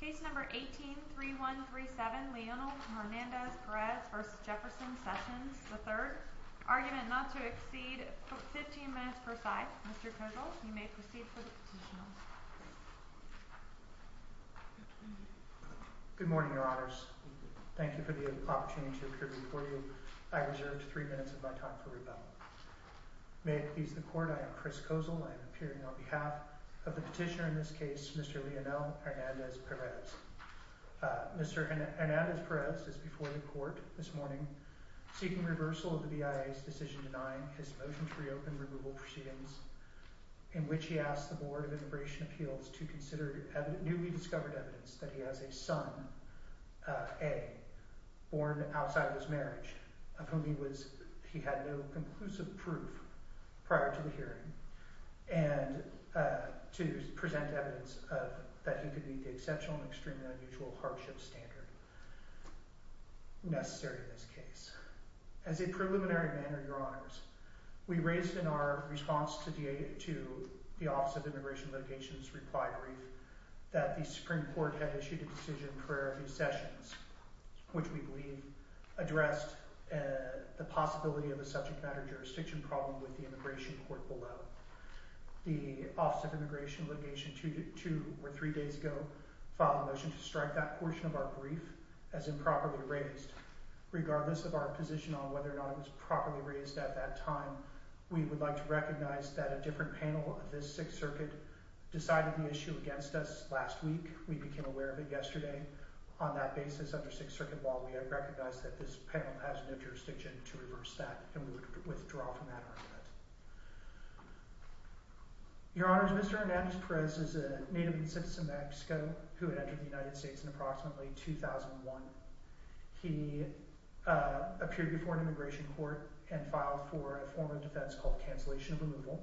Case No. 18-3137, Leonel Hernandez-Perez v. Jefferson Sessions III Argument not to exceed 15 minutes per side Mr. Kozol, you may proceed for the petition Good morning, Your Honors Thank you for the opportunity to appear before you I reserved three minutes of my time for rebuttal May it please the Court, I am Chris Kozol I am appearing on behalf of the petitioner in this case Mr. Leonel Hernandez-Perez Mr. Hernandez-Perez is before the Court this morning seeking reversal of the BIA's decision denying his motion to reopen removal proceedings in which he asked the Board of Immigration Appeals to consider newly discovered evidence that he has a son, A, born outside of his marriage of whom he had no conclusive proof prior to the hearing and to present evidence that he could meet the exceptional and extremely unusual hardship standard necessary in this case As a preliminary matter, Your Honors we raised in our response to the Office of Immigration Litigation's reply brief that the Supreme Court had issued a decision prior to these sessions which we believe addressed the possibility of a subject matter jurisdiction problem with the immigration court below The Office of Immigration Litigation two or three days ago filed a motion to strike that portion of our brief as improperly raised regardless of our position on whether or not it was properly raised at that time we would like to recognize that a different panel of this Sixth Circuit decided the issue against us last week we became aware of it yesterday on that basis, under Sixth Circuit law we have recognized that this panel has no jurisdiction to reverse that and we would withdraw from that argument Your Honors, Mr. Hernandez Perez is a native citizen of Mexico who entered the United States in approximately 2001 He appeared before an immigration court and filed for a form of defense called cancellation of removal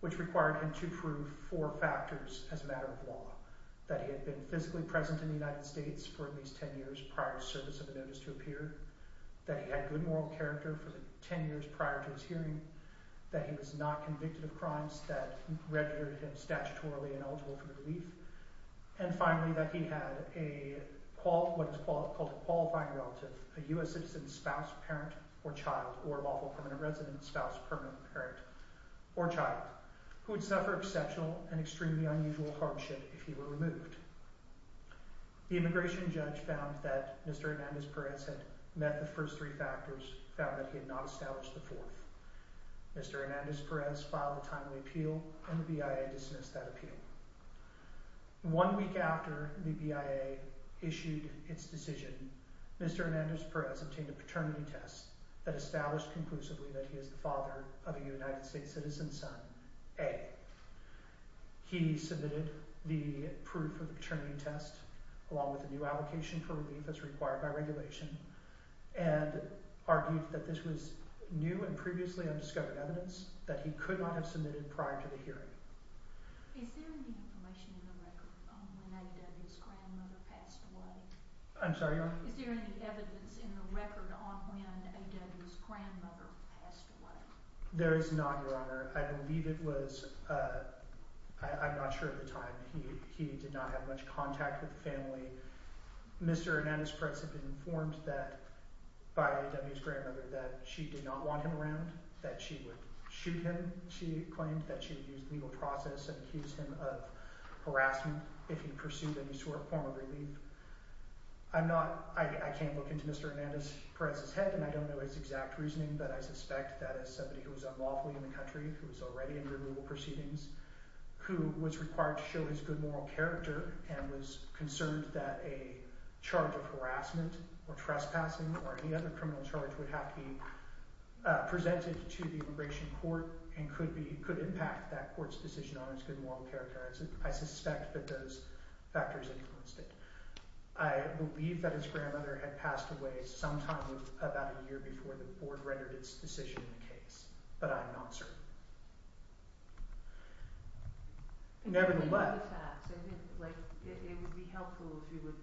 which required him to prove four factors as a matter of law that he had been physically present in the United States for at least ten years prior to the service of a notice to appear that he had good moral character for the ten years prior to his hearing that he was not convicted of crimes that registered him statutorily ineligible for relief and finally that he had what is called a qualifying relative a U.S. citizen's spouse, parent, or child or lawful permanent resident, spouse, permanent parent, or child who would suffer exceptional and extremely unusual hardship if he were removed The immigration judge found that Mr. Hernandez Perez had met the first three factors found that he had not established the fourth Mr. Hernandez Perez filed a timely appeal and the BIA dismissed that appeal One week after the BIA issued its decision Mr. Hernandez Perez obtained a paternity test that established conclusively that he is the father of a United States citizen's son, A He submitted the proof of the paternity test along with a new allocation for relief as required by regulation and argued that this was new and previously undiscovered evidence that he could not have submitted prior to the hearing I'm sorry, Your Honor There is not, Your Honor I believe it was, I'm not sure at the time he did not have much contact with the family Mr. Hernandez Perez had been informed that by A.W.'s grandmother that she did not want him around that she would shoot him, she claimed that she would use legal process and accuse him of harassment if he pursued any sort of form of relief I'm not, I can't look into Mr. Hernandez Perez's head and I don't know his exact reasoning but I suspect that as somebody who was unlawfully in the country who was already under legal proceedings who was required to show his good moral character and was concerned that a charge of harassment or trespassing or any other criminal charge would have to be presented to the immigration court and could impact that court's decision on his good moral character I suspect that those factors influenced it I believe that his grandmother had passed away sometime about a year before the board rendered its decision on the case but I am not certain Nevertheless I think by the facts, I think it would be helpful if you would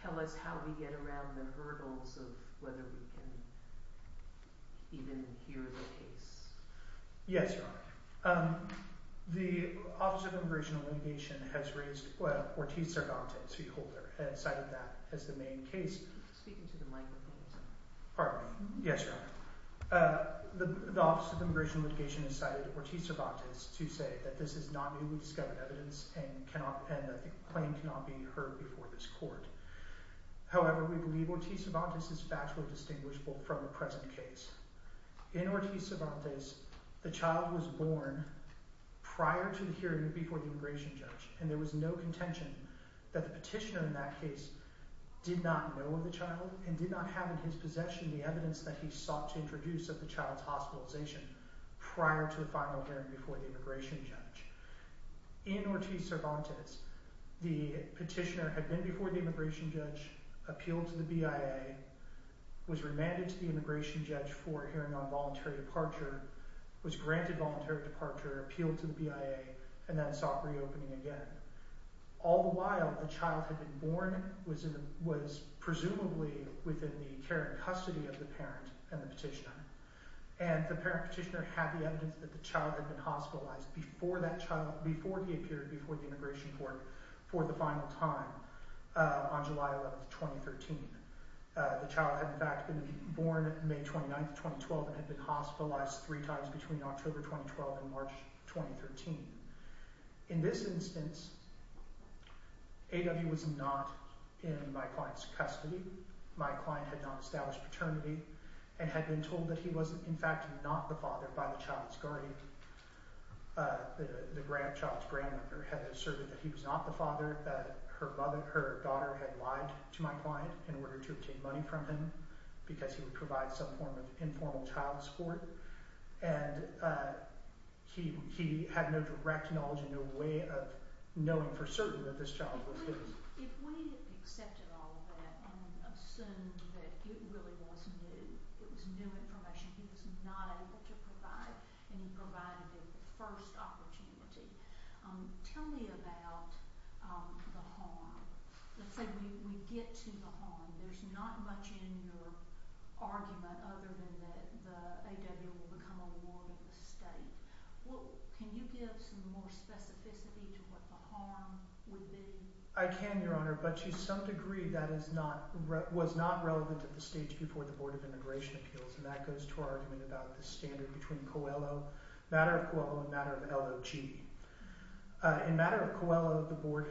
tell us how we get around the hurdles of whether we can even hear the case Yes, Your Honor The Office of Immigration and Elimination has raised, well, Ortiz Cervantes, the holder has cited that as the main case Pardon me Yes, Your Honor The Office of Immigration and Elimination has cited Ortiz Cervantes to say that this is not newly discovered evidence and the claim cannot be heard before this court However, we believe Ortiz Cervantes is factually distinguishable from the present case In Ortiz Cervantes, the child was born prior to the hearing before the immigration judge and there was no contention that the petitioner in that case did not know of the child and did not have in his possession the evidence that he sought to introduce of the child's hospitalization prior to the final hearing before the immigration judge In Ortiz Cervantes the petitioner had been before the immigration judge appealed to the BIA was remanded to the immigration judge for hearing on voluntary departure was granted voluntary departure appealed to the BIA and then sought reopening again All the while, the child had been born was presumably within the care and custody of the parent and the petitioner and the parent and the petitioner had the evidence that the child had been hospitalized before he appeared before the immigration court for the final time on July 11, 2013 The child had in fact been born May 29, 2012 and had been hospitalized three times between October 2012 and March 2013 In this instance A.W. was not in my client's custody My client had not established paternity and had been told that he was in fact not the father by the child's guardian The child's grandmother had asserted that he was not the father that her daughter had lied to my client in order to obtain money from him because he would provide some form of informal child support and he had no direct knowledge no way of knowing for certain that this child was his If we had accepted all of that and assumed that it really was new it was new information he was not able to provide and he provided it the first opportunity Tell me about the harm Let's say we get to the harm There's not much in your argument other than that A.W. will become a ward in the state Can you give some more specificity to what the harm would be? I can, Your Honor but to some degree that was not relevant at the stage before the Board of Immigration Appeals and that goes to our argument about the standard between COELO matter of COELO and matter of LOG In matter of COELO the Board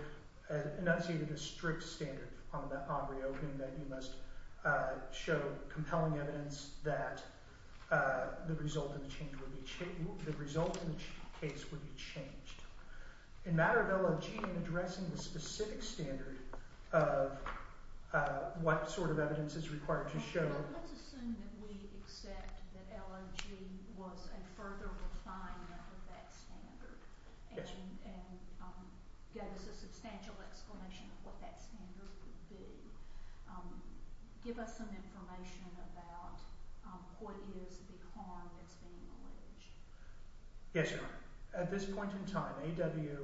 enunciated a strict standard upon the Aubrey opening that you must show compelling evidence that the result of the case would be changed In matter of LOG in addressing the specific standard of what sort of evidence is required to show Let's assume that we accept that LOG was a further refinement of that standard and gave us a substantial explanation of what that standard would be Give us some information about what is the harm that's being alleged Yes, Your Honor At this point in time A.W.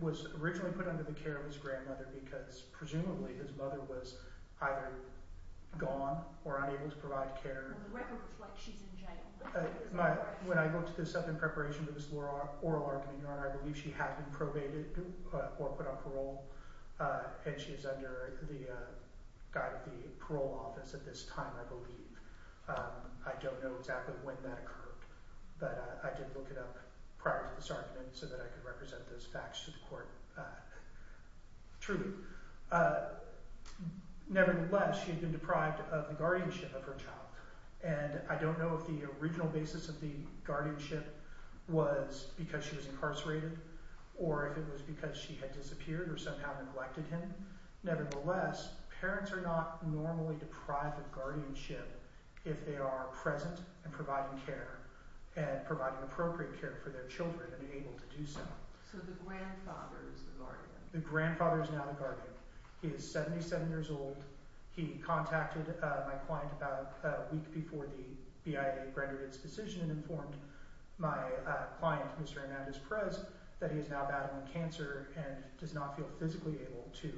was originally put under the care of his grandmother because presumably his mother was either gone or unable to provide care The record reflects she's in jail When I looked this up in preparation for this oral argument, Your Honor I believe she had been probated or put on parole and she's under the guide of the parole office at this time, I believe I don't know exactly when that occurred but I did look it up prior to this argument so that I could represent those facts to the court Truly Nevertheless, she had been deprived of the guardianship of her child and I don't know if the original basis of the guardianship was because she was incarcerated or if it was because she had disappeared or somehow neglected him Nevertheless, parents are not normally deprived of guardianship if they are present and providing care and providing appropriate care for their children and able to do so So the grandfather is the guardian The grandfather is now the guardian He is 77 years old He contacted my client about a week before the BIA rendered its decision and informed my client, Mr. Hernandez Perez that he is now battling cancer and does not feel physically able to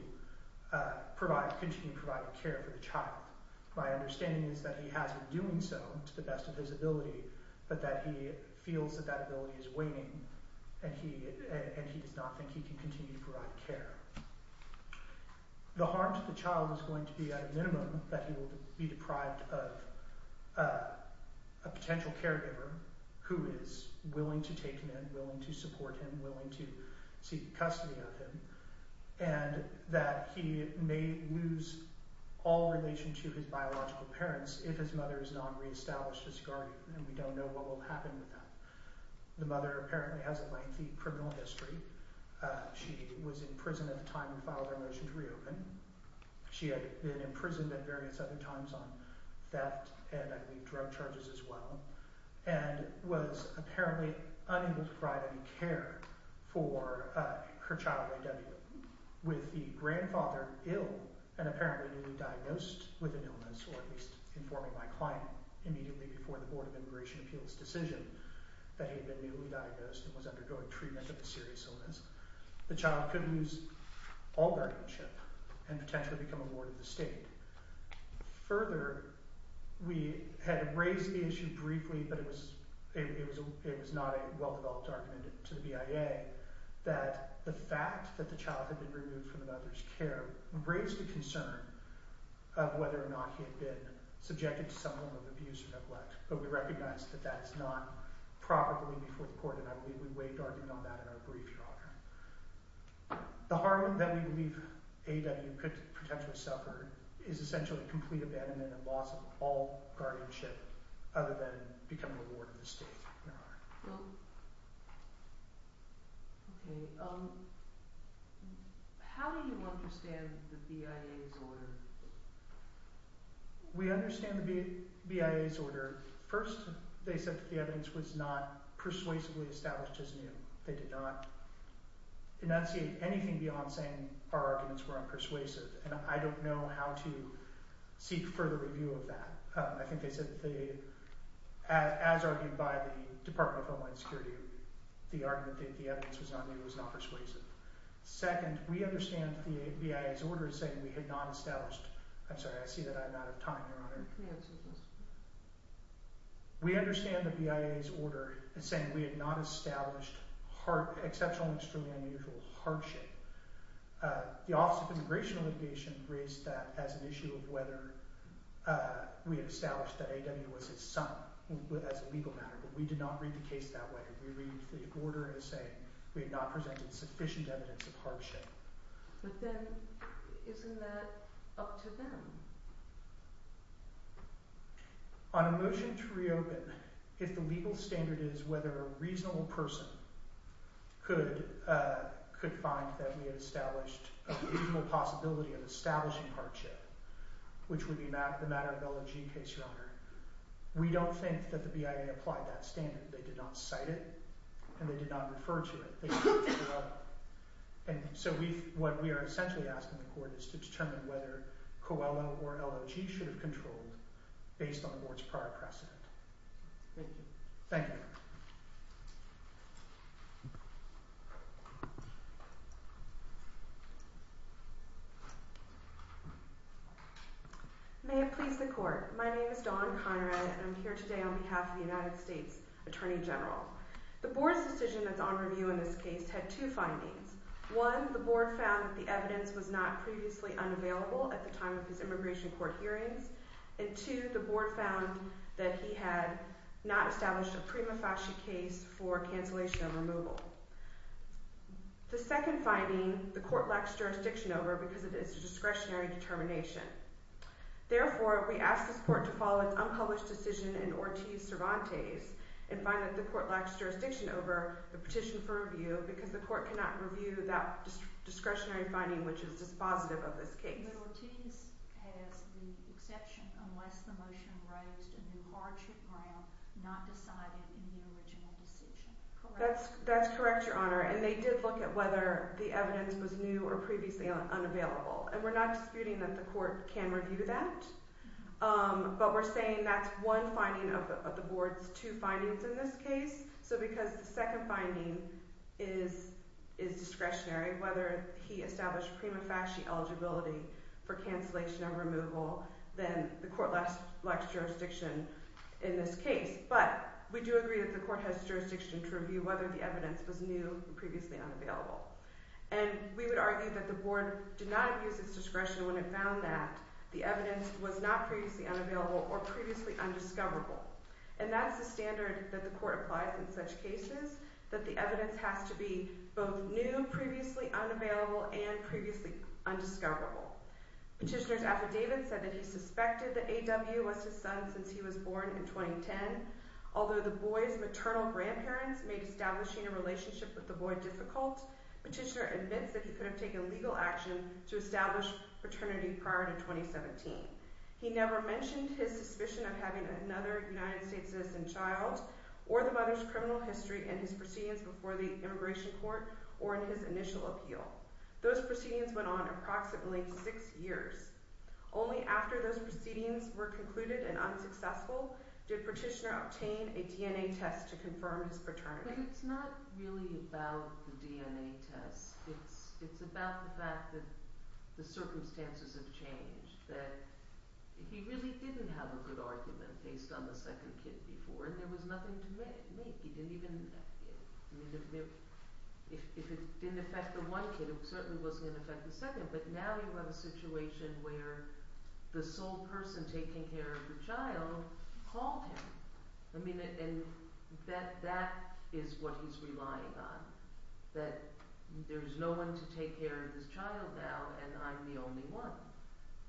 continue providing care for the child My understanding is that he has been doing so to the best of his ability but that he feels that that ability is waning and he does not think he can continue to provide care The harm to the child is going to be at a minimum that he will be deprived of a potential caregiver who is willing to take him in willing to support him willing to seek custody of him and that he may lose all relation to his biological parents if his mother is not re-established as guardian and we don't know what will happen with that The mother apparently has a lengthy criminal history She was in prison at the time we filed our motion to reopen She had been imprisoned at various other times on theft and I believe drug charges as well and was apparently unable to provide any care for her child A.W. With the grandfather ill and apparently newly diagnosed with an illness or at least informing my client immediately before the Board of Immigration Appeals decision that he had been newly diagnosed and was undergoing treatment of a serious illness the child could lose all guardianship and potentially become a ward of the state Further, we had raised the issue briefly but it was not a well-developed argument to the BIA that the fact that the child had been removed from the mother's care raised a concern of whether or not he had been subjected to some form of abuse or neglect but we recognize that that's not properly before the court and I believe we waived argument on that in our brief, Your Honor The harm that we believe A.W. could potentially suffer is essentially complete abandonment and loss of all guardianship other than becoming a ward of the state, Your Honor How do you understand the BIA's order? We understand the BIA's order First, they said that the evidence was not persuasively established as new They did not enunciate anything beyond saying our arguments were unpersuasive and I don't know how to seek further review of that I think they said that they as argued by the Department of Homeland Security the argument that the evidence was not new was not persuasive Second, we understand the BIA's order saying we had not established I'm sorry, I see that I'm out of time, Your Honor We understand the BIA's order saying we had not established exceptional and extremely unusual hardship The Office of Immigration and Litigation raised that as an issue of whether we had established that A.W. was his son as a legal matter but we did not read the case that way We read the order as saying we had not presented sufficient evidence of hardship But then, isn't that up to them? On a motion to reopen if the legal standard is whether a reasonable person could find that we had established a reasonable possibility of establishing hardship which would be the Matt Arbello G case, Your Honor we don't think that the BIA applied that standard They did not cite it and they did not refer to it They looked it up and so what we are essentially asking the court is to determine whether COELA or LOG should have controlled based on the board's prior precedent Thank you Thank you May it please the court My name is Dawn Conrad and I'm here today on behalf of the United States Attorney General The board's decision that's on review in this case had two findings One, the board found that the evidence was not previously unavailable at the time of his immigration court hearings and two, the board found that he had not established a prima facie case for cancellation of removal The second finding, the court lacks jurisdiction over because it is a discretionary determination Therefore, we ask this court to follow its unpublished decision in Ortiz-Cervantes and find that the court lacks jurisdiction over the petition for review because the court cannot review that discretionary finding which is dispositive of this case But Ortiz has the exception unless the motion raised a new hardship ground not decided in the original decision That's correct, your honor and they did look at whether the evidence was new or previously unavailable and we're not disputing that the court can review that but we're saying that's one finding of the board's two findings in this case so because the second finding is discretionary whether he established prima facie eligibility for cancellation of removal then the court lacks jurisdiction in this case but we do agree that the court has jurisdiction to review whether the evidence was new or previously unavailable and we would argue that the board did not use its discretion when it found that the evidence was not previously unavailable or previously undiscoverable and that's the standard that the court applies in such cases that the evidence has to be both new, previously unavailable and previously undiscoverable Petitioner's affidavit said that he suspected that A.W. was his son since he was born in 2010 although the boy's maternal grandparents made establishing a relationship with the boy difficult Petitioner admits that he could have taken legal action to establish paternity prior to 2017 He never mentioned his suspicion of having another United States citizen child or the mother's criminal history in his proceedings before the immigration court or in his initial appeal Those proceedings went on approximately six years Only after those proceedings were concluded and unsuccessful did Petitioner obtain a DNA test to confirm his paternity But it's not really about the DNA test It's about the fact that the circumstances have changed that he really didn't have a good argument based on the second kid before and there was nothing to make If it didn't affect the one kid it certainly wasn't going to affect the second but now you have a situation where the sole person taking care of the child called him and that is what he's relying on that there's no one to take care of this child now and I'm the only one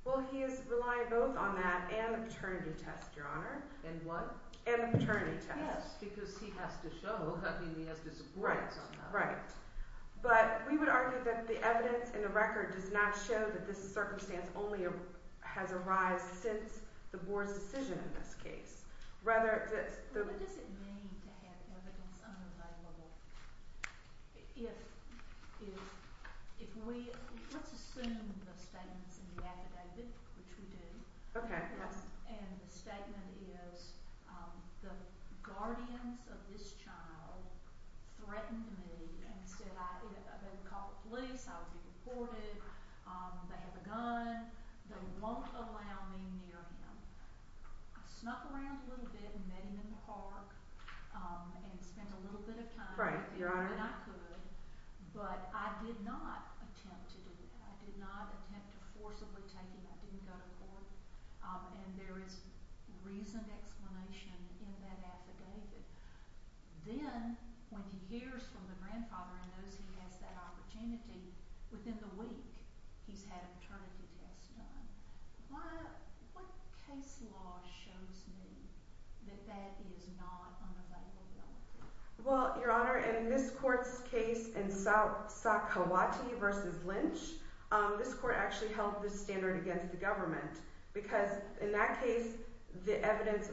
Well, he is relying both on that and a paternity test, Your Honor And what? And a paternity test Yes Because he has to show that he has disagreed Right, right But we would argue that the evidence in the record does not show that this circumstance only has arised since the Board's decision in this case What does it mean to have evidence unavailable? Let's assume the statement is in the affidavit which we do Okay, yes And the statement is the guardians of this child threatened me and said they would call the police I would be deported They have a gun They won't allow me near him I snuck around a little bit and met him in the park and spent a little bit of time Right, Your Honor I did what I could but I did not attempt to do that I did not attempt to forcibly take him I didn't go to court And there is reasoned explanation in that affidavit Then, when he hears from the grandfather and knows he has that opportunity within the week, he's had a paternity test done What case law shows me that that is not unavailability? Well, Your Honor, in this court's case in Sakawati v. Lynch this court actually held this standard against the government because in that case the evidence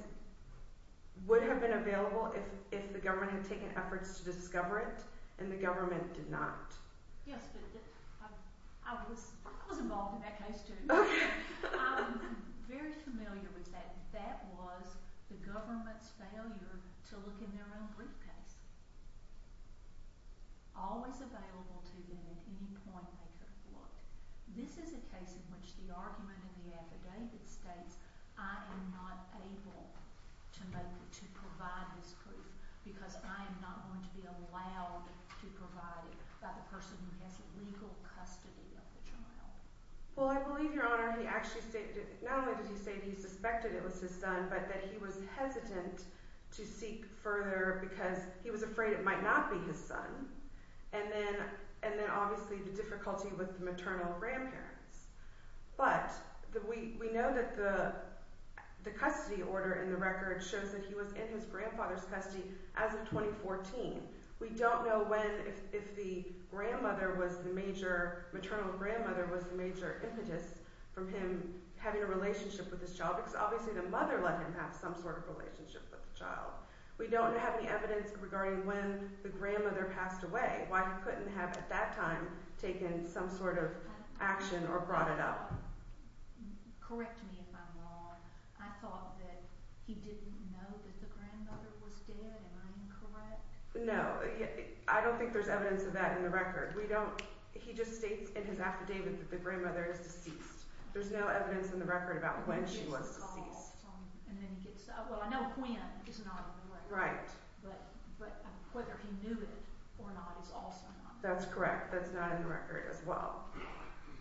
would have been available if the government had taken efforts to discover it and the government did not Yes, but I was involved in that case too I'm very familiar with that That was the government's failure to look in their own briefcase always available to them at any point they could have looked This is a case in which the argument in the affidavit states I am not able to provide this proof because I am not going to be allowed to provide it by the person who has legal custody of the child Well, I believe, Your Honor, he actually stated not only did he say he suspected it was his son but that he was hesitant to seek further because he was afraid it might not be his son and then obviously the difficulty with the maternal grandparents But we know that the custody order in the record shows that he was in his grandfather's custody as of 2014 We don't know when, if the grandmother was the major maternal grandmother was the major impetus from him having a relationship with his child because obviously the mother let him have some sort of relationship with the child We don't have any evidence regarding when the grandmother passed away why he couldn't have at that time taken some sort of action or brought it up Correct me if I'm wrong I thought that he didn't know that the grandmother was dead Am I incorrect? No, I don't think there's evidence of that in the record He just states in his affidavit that the grandmother is deceased There's no evidence in the record about when she was deceased I know when is not in the record but whether he knew it or not is also not in the record That's correct, that's not in the record as well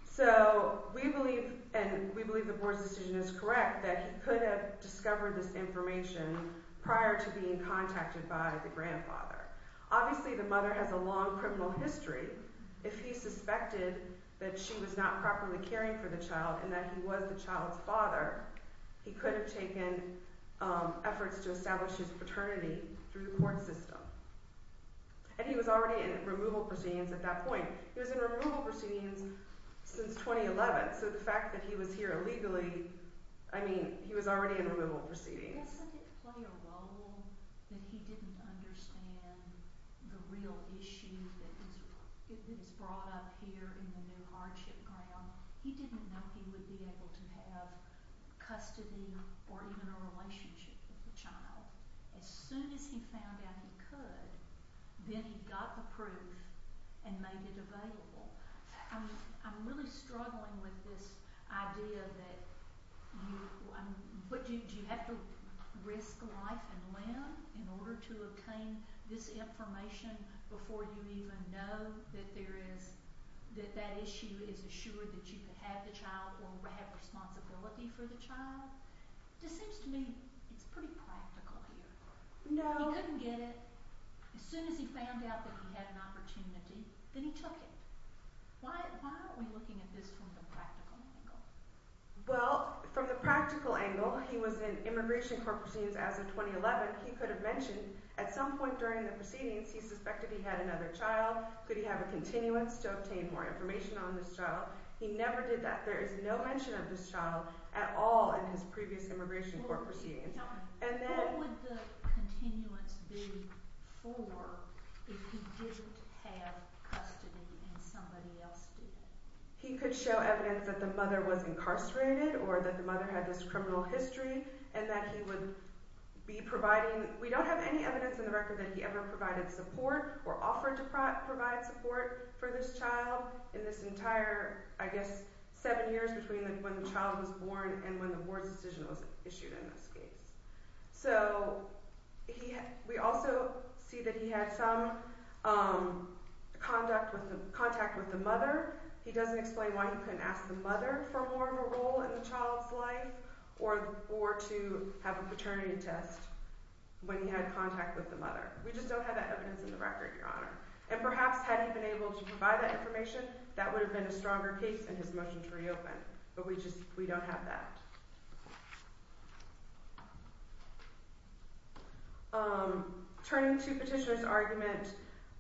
So we believe, and we believe the board's decision is correct that he could have discovered this information prior to being contacted by the grandfather Obviously the mother has a long criminal history If he suspected that she was not properly caring for the child and that he was the child's father he could have taken efforts to establish his paternity through the court system and he was already in removal proceedings at that point He was in removal proceedings since 2011 so the fact that he was here illegally I mean, he was already in removal proceedings Doesn't it play a role that he didn't understand the real issue that is brought up here in the new hardship ground? He didn't know he would be able to have custody or even a relationship with the child As soon as he found out he could then he got the proof and made it available I'm really struggling with this idea that do you have to risk life and limb in order to obtain this information before you even know that that issue is assured that you can have the child or have responsibility for the child It seems to me it's pretty practical here He couldn't get it As soon as he found out that he had an opportunity then he took it Why aren't we looking at this from the practical angle? Well, from the practical angle he was in immigration court proceedings as of 2011 He could have mentioned at some point during the proceedings he suspected he had another child Could he have a continuance to obtain more information on this child? He never did that There is no mention of this child at all in his previous immigration court proceedings What would the continuance be for if he didn't have custody and somebody else did? He could show evidence that the mother was incarcerated or that the mother had this criminal history and that he would be providing We don't have any evidence in the record that he ever provided support or offered to provide support for this child in this entire, I guess, seven years between when the child was born and when the board's decision was issued in this case We also see that he had some contact with the mother He doesn't explain why he couldn't ask the mother for more of a role in the child's life or to have a paternity test when he had contact with the mother We just don't have that evidence in the record, Your Honor And perhaps had he been able to provide that information that would have been a stronger case in his motion to reopen But we don't have that Turning to Petitioner's argument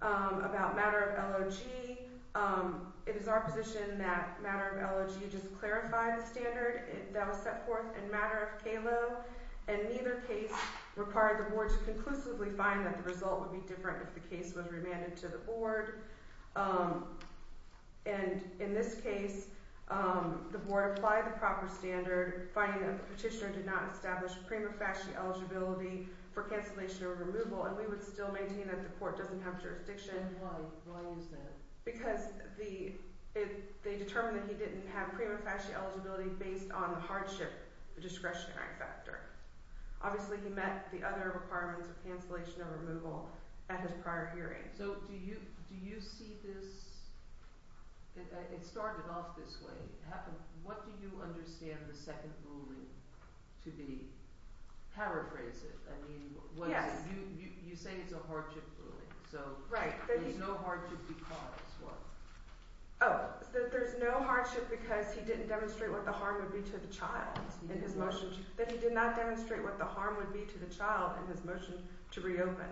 about matter of LOG It is our position that matter of LOG just clarified the standard that was set forth in matter of KLO And neither case required the board to conclusively find that the result would be different if the case was remanded to the board And in this case, the board applied the proper standard finding that the petitioner did not establish prima facie eligibility for cancellation or removal And we would still maintain that the court doesn't have jurisdiction And why? Why is that? Because they determined that he didn't have the discretionary factor Obviously he met the other requirements of cancellation and removal at his prior hearing So do you see this... It started off this way What do you understand the second ruling to be? Paraphrase it You say it's a hardship ruling So there's no hardship because what? Oh, so there's no hardship because he didn't demonstrate what the harm would be to the child in his motion That he did not demonstrate what the harm would be to the child in his motion to reopen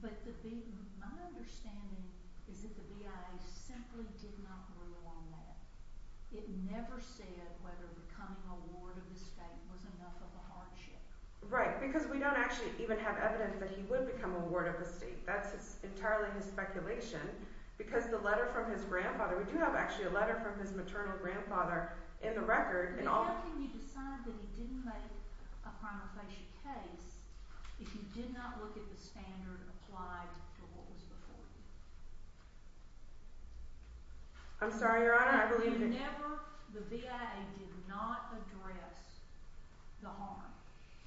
But the big... My understanding is that the BIA simply did not rule on that It never said whether becoming a ward of the state was enough of a hardship Right, because we don't actually even have evidence that he would become a ward of the state That's entirely his speculation Because the letter from his grandfather We do have actually a letter from his maternal grandfather in the record But how can you decide that he didn't make a prima facie case if you did not look at the standard applied to what was before you? I'm sorry, your honor, I believe... The BIA did not address the harm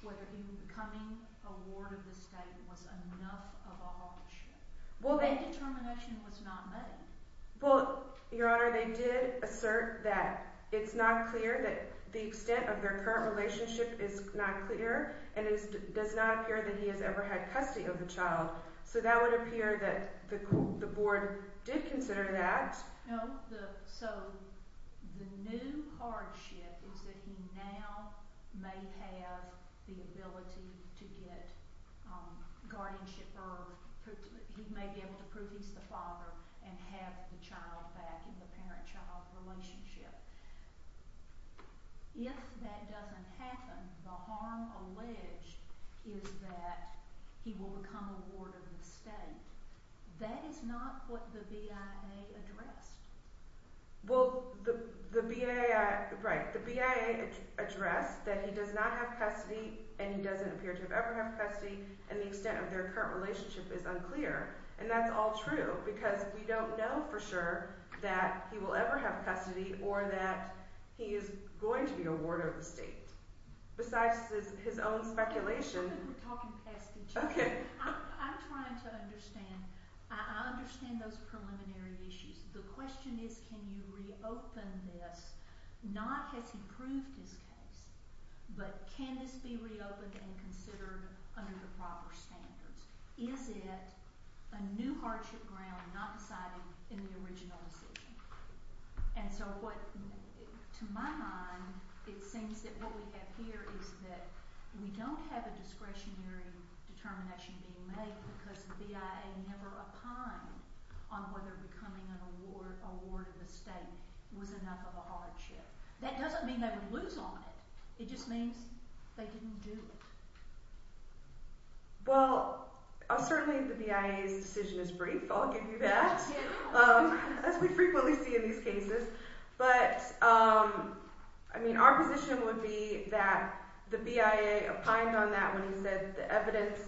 whether becoming a ward of the state was enough of a hardship Well, that determination was not made Well, your honor, they did assert that it's not clear that the extent of their current relationship is not clear and it does not appear that he has ever had custody of the child So that would appear that the board did consider that No, so the new hardship is that he now may have the ability to get guardianship or he may be able to prove he's the father and have the child back in the parent-child relationship If that doesn't happen, the harm alleged is that he will become a ward of the state That is not what the BIA addressed Well, the BIA addressed that he does not have custody and he doesn't appear to have ever had custody and the extent of their current relationship is unclear and that's all true because we don't know for sure that he will ever have custody or that he is going to be a ward of the state Besides his own speculation... I'm trying to understand I understand those preliminary issues The question is can you reopen this not has he proved his case but can this be reopened and considered under the proper standards Is it a new hardship ground not decided in the original decision? And so to my mind, it seems that what we have here is that we don't have a discretionary determination being made because the BIA never opined on whether becoming a ward of the state was enough of a hardship That doesn't mean they would lose on it It just means they didn't do it Well, certainly the BIA's decision is brief I'll give you that as we frequently see in these cases but our position would be that the BIA opined on that when he said the evidence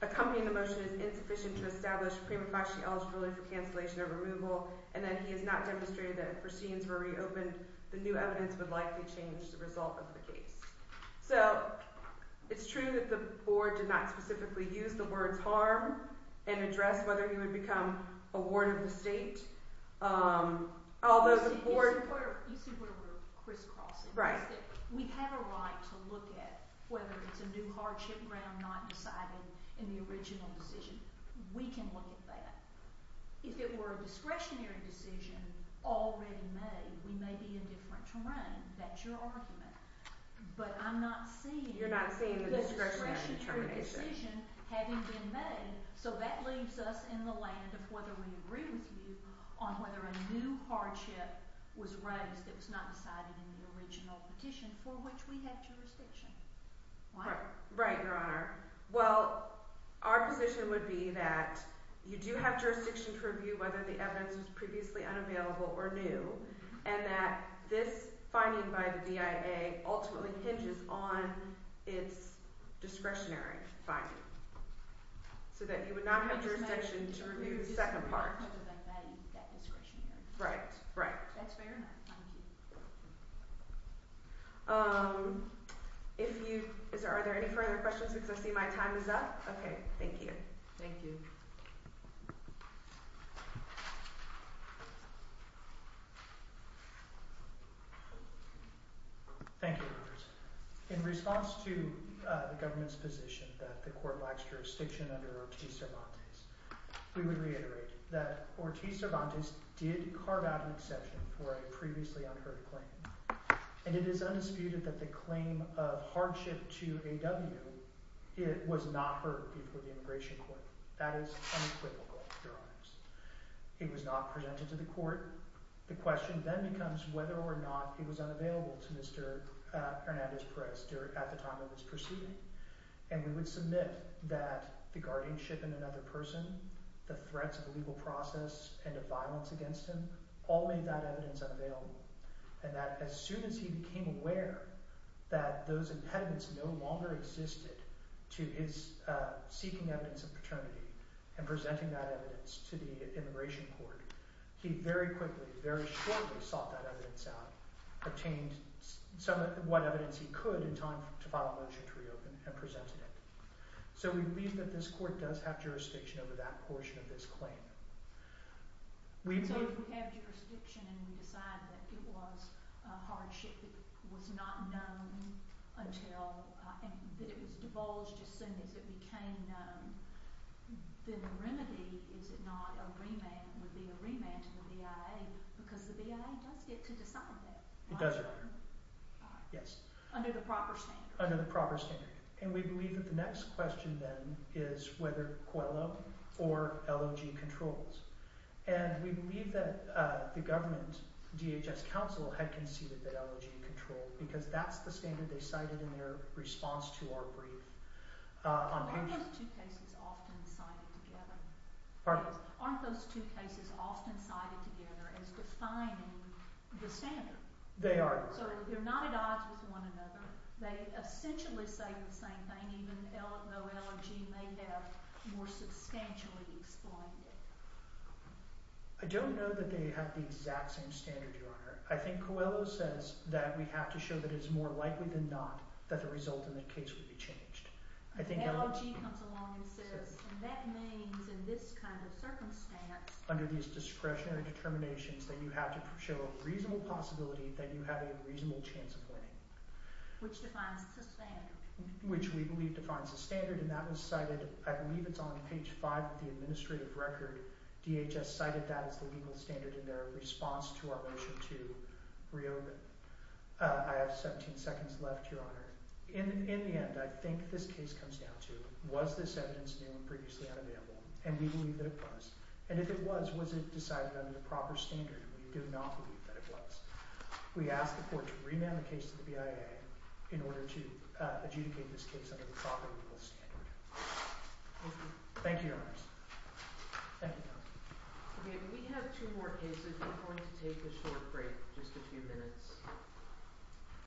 accompanying the motion is insufficient to establish prima facie eligibility for cancellation or removal and that he has not demonstrated that if proceedings were reopened the new evidence would likely change the result of the case So it's true that the board did not specifically use the words harm and address whether he would become a ward of the state Although the board... You see where we're crisscrossing Right We have a right to look at whether it's a new hardship ground not decided in the original decision We can look at that If it were a discretionary decision already made we may be in different terrain That's your argument But I'm not seeing the discretionary decision having been made So that leaves us in the land of whether we agree with you on whether a new hardship was raised that was not decided in the original petition for which we have jurisdiction Right, Your Honor Well, our position would be that you do have jurisdiction to review whether the evidence was previously unavailable or new and that this finding by the BIA ultimately hinges on its discretionary finding So that you would not have jurisdiction to review the second part Right, right If you... Are there any further questions? Because I see my time is up Okay, thank you Thank you Thank you In response to the government's position that the court lacks jurisdiction under Ortiz-Cervantes we would reiterate that Ortiz-Cervantes did carve out an exception for a previously unheard claim and it is undisputed that the claim of hardship to AW was not heard before the immigration court That is unequivocal, Your Honors It was not presented to the court The question then becomes whether or not it was unavailable to Mr. Hernandez-Perez at the time of his proceeding and we would submit that the guardianship in another person the threats of a legal process and of violence against him all made that evidence unavailable and that as soon as he became aware that those impediments no longer existed to his seeking evidence of paternity and presenting that evidence to the immigration court he very quickly, very shortly, sought that evidence out obtained some of what evidence he could in time to file a motion to reopen and presented it So we believe that this court does have jurisdiction over that portion of this claim So if we have jurisdiction and we decide that it was a hardship that was not known until that it was divulged as soon as it became known then the remedy is it not a remand would be a remand to the BIA because the BIA does get to decide that It does, Your Honor Yes Under the proper standard Under the proper standard And we believe that the next question then is whether Coelho or LOG controls And we believe that the government DHS counsel had conceded that LOG controlled because that's the standard they cited in their response to our brief Aren't those two cases often cited together? Pardon? Aren't those two cases often cited together as defining the standard? They are So they're not at odds with one another They essentially say the same thing even though LOG may have more substantially explained it I don't know that they have the exact same standard, Your Honor I think Coelho says that we have to show that it's more likely than not that the result in the case would be changed LOG comes along and says that means in this kind of circumstance under these discretionary determinations that you have to show a reasonable possibility that you have a reasonable chance of winning Which defines the standard? Which we believe defines the standard and that was cited I believe it's on page 5 of the administrative record DHS cited that as the legal standard in their response to our motion to reopen I have 17 seconds left, Your Honor In the end, I think this case comes down to was this evidence new and previously unavailable? And we believe that it was And if it was, was it decided under the proper standard? We do not believe that it was We ask the court to remand the case to the BIA in order to adjudicate this case under the proper legal standard Thank you, Your Honor Thank you, Your Honor Okay, we have two more cases We're going to take a short break Just a few minutes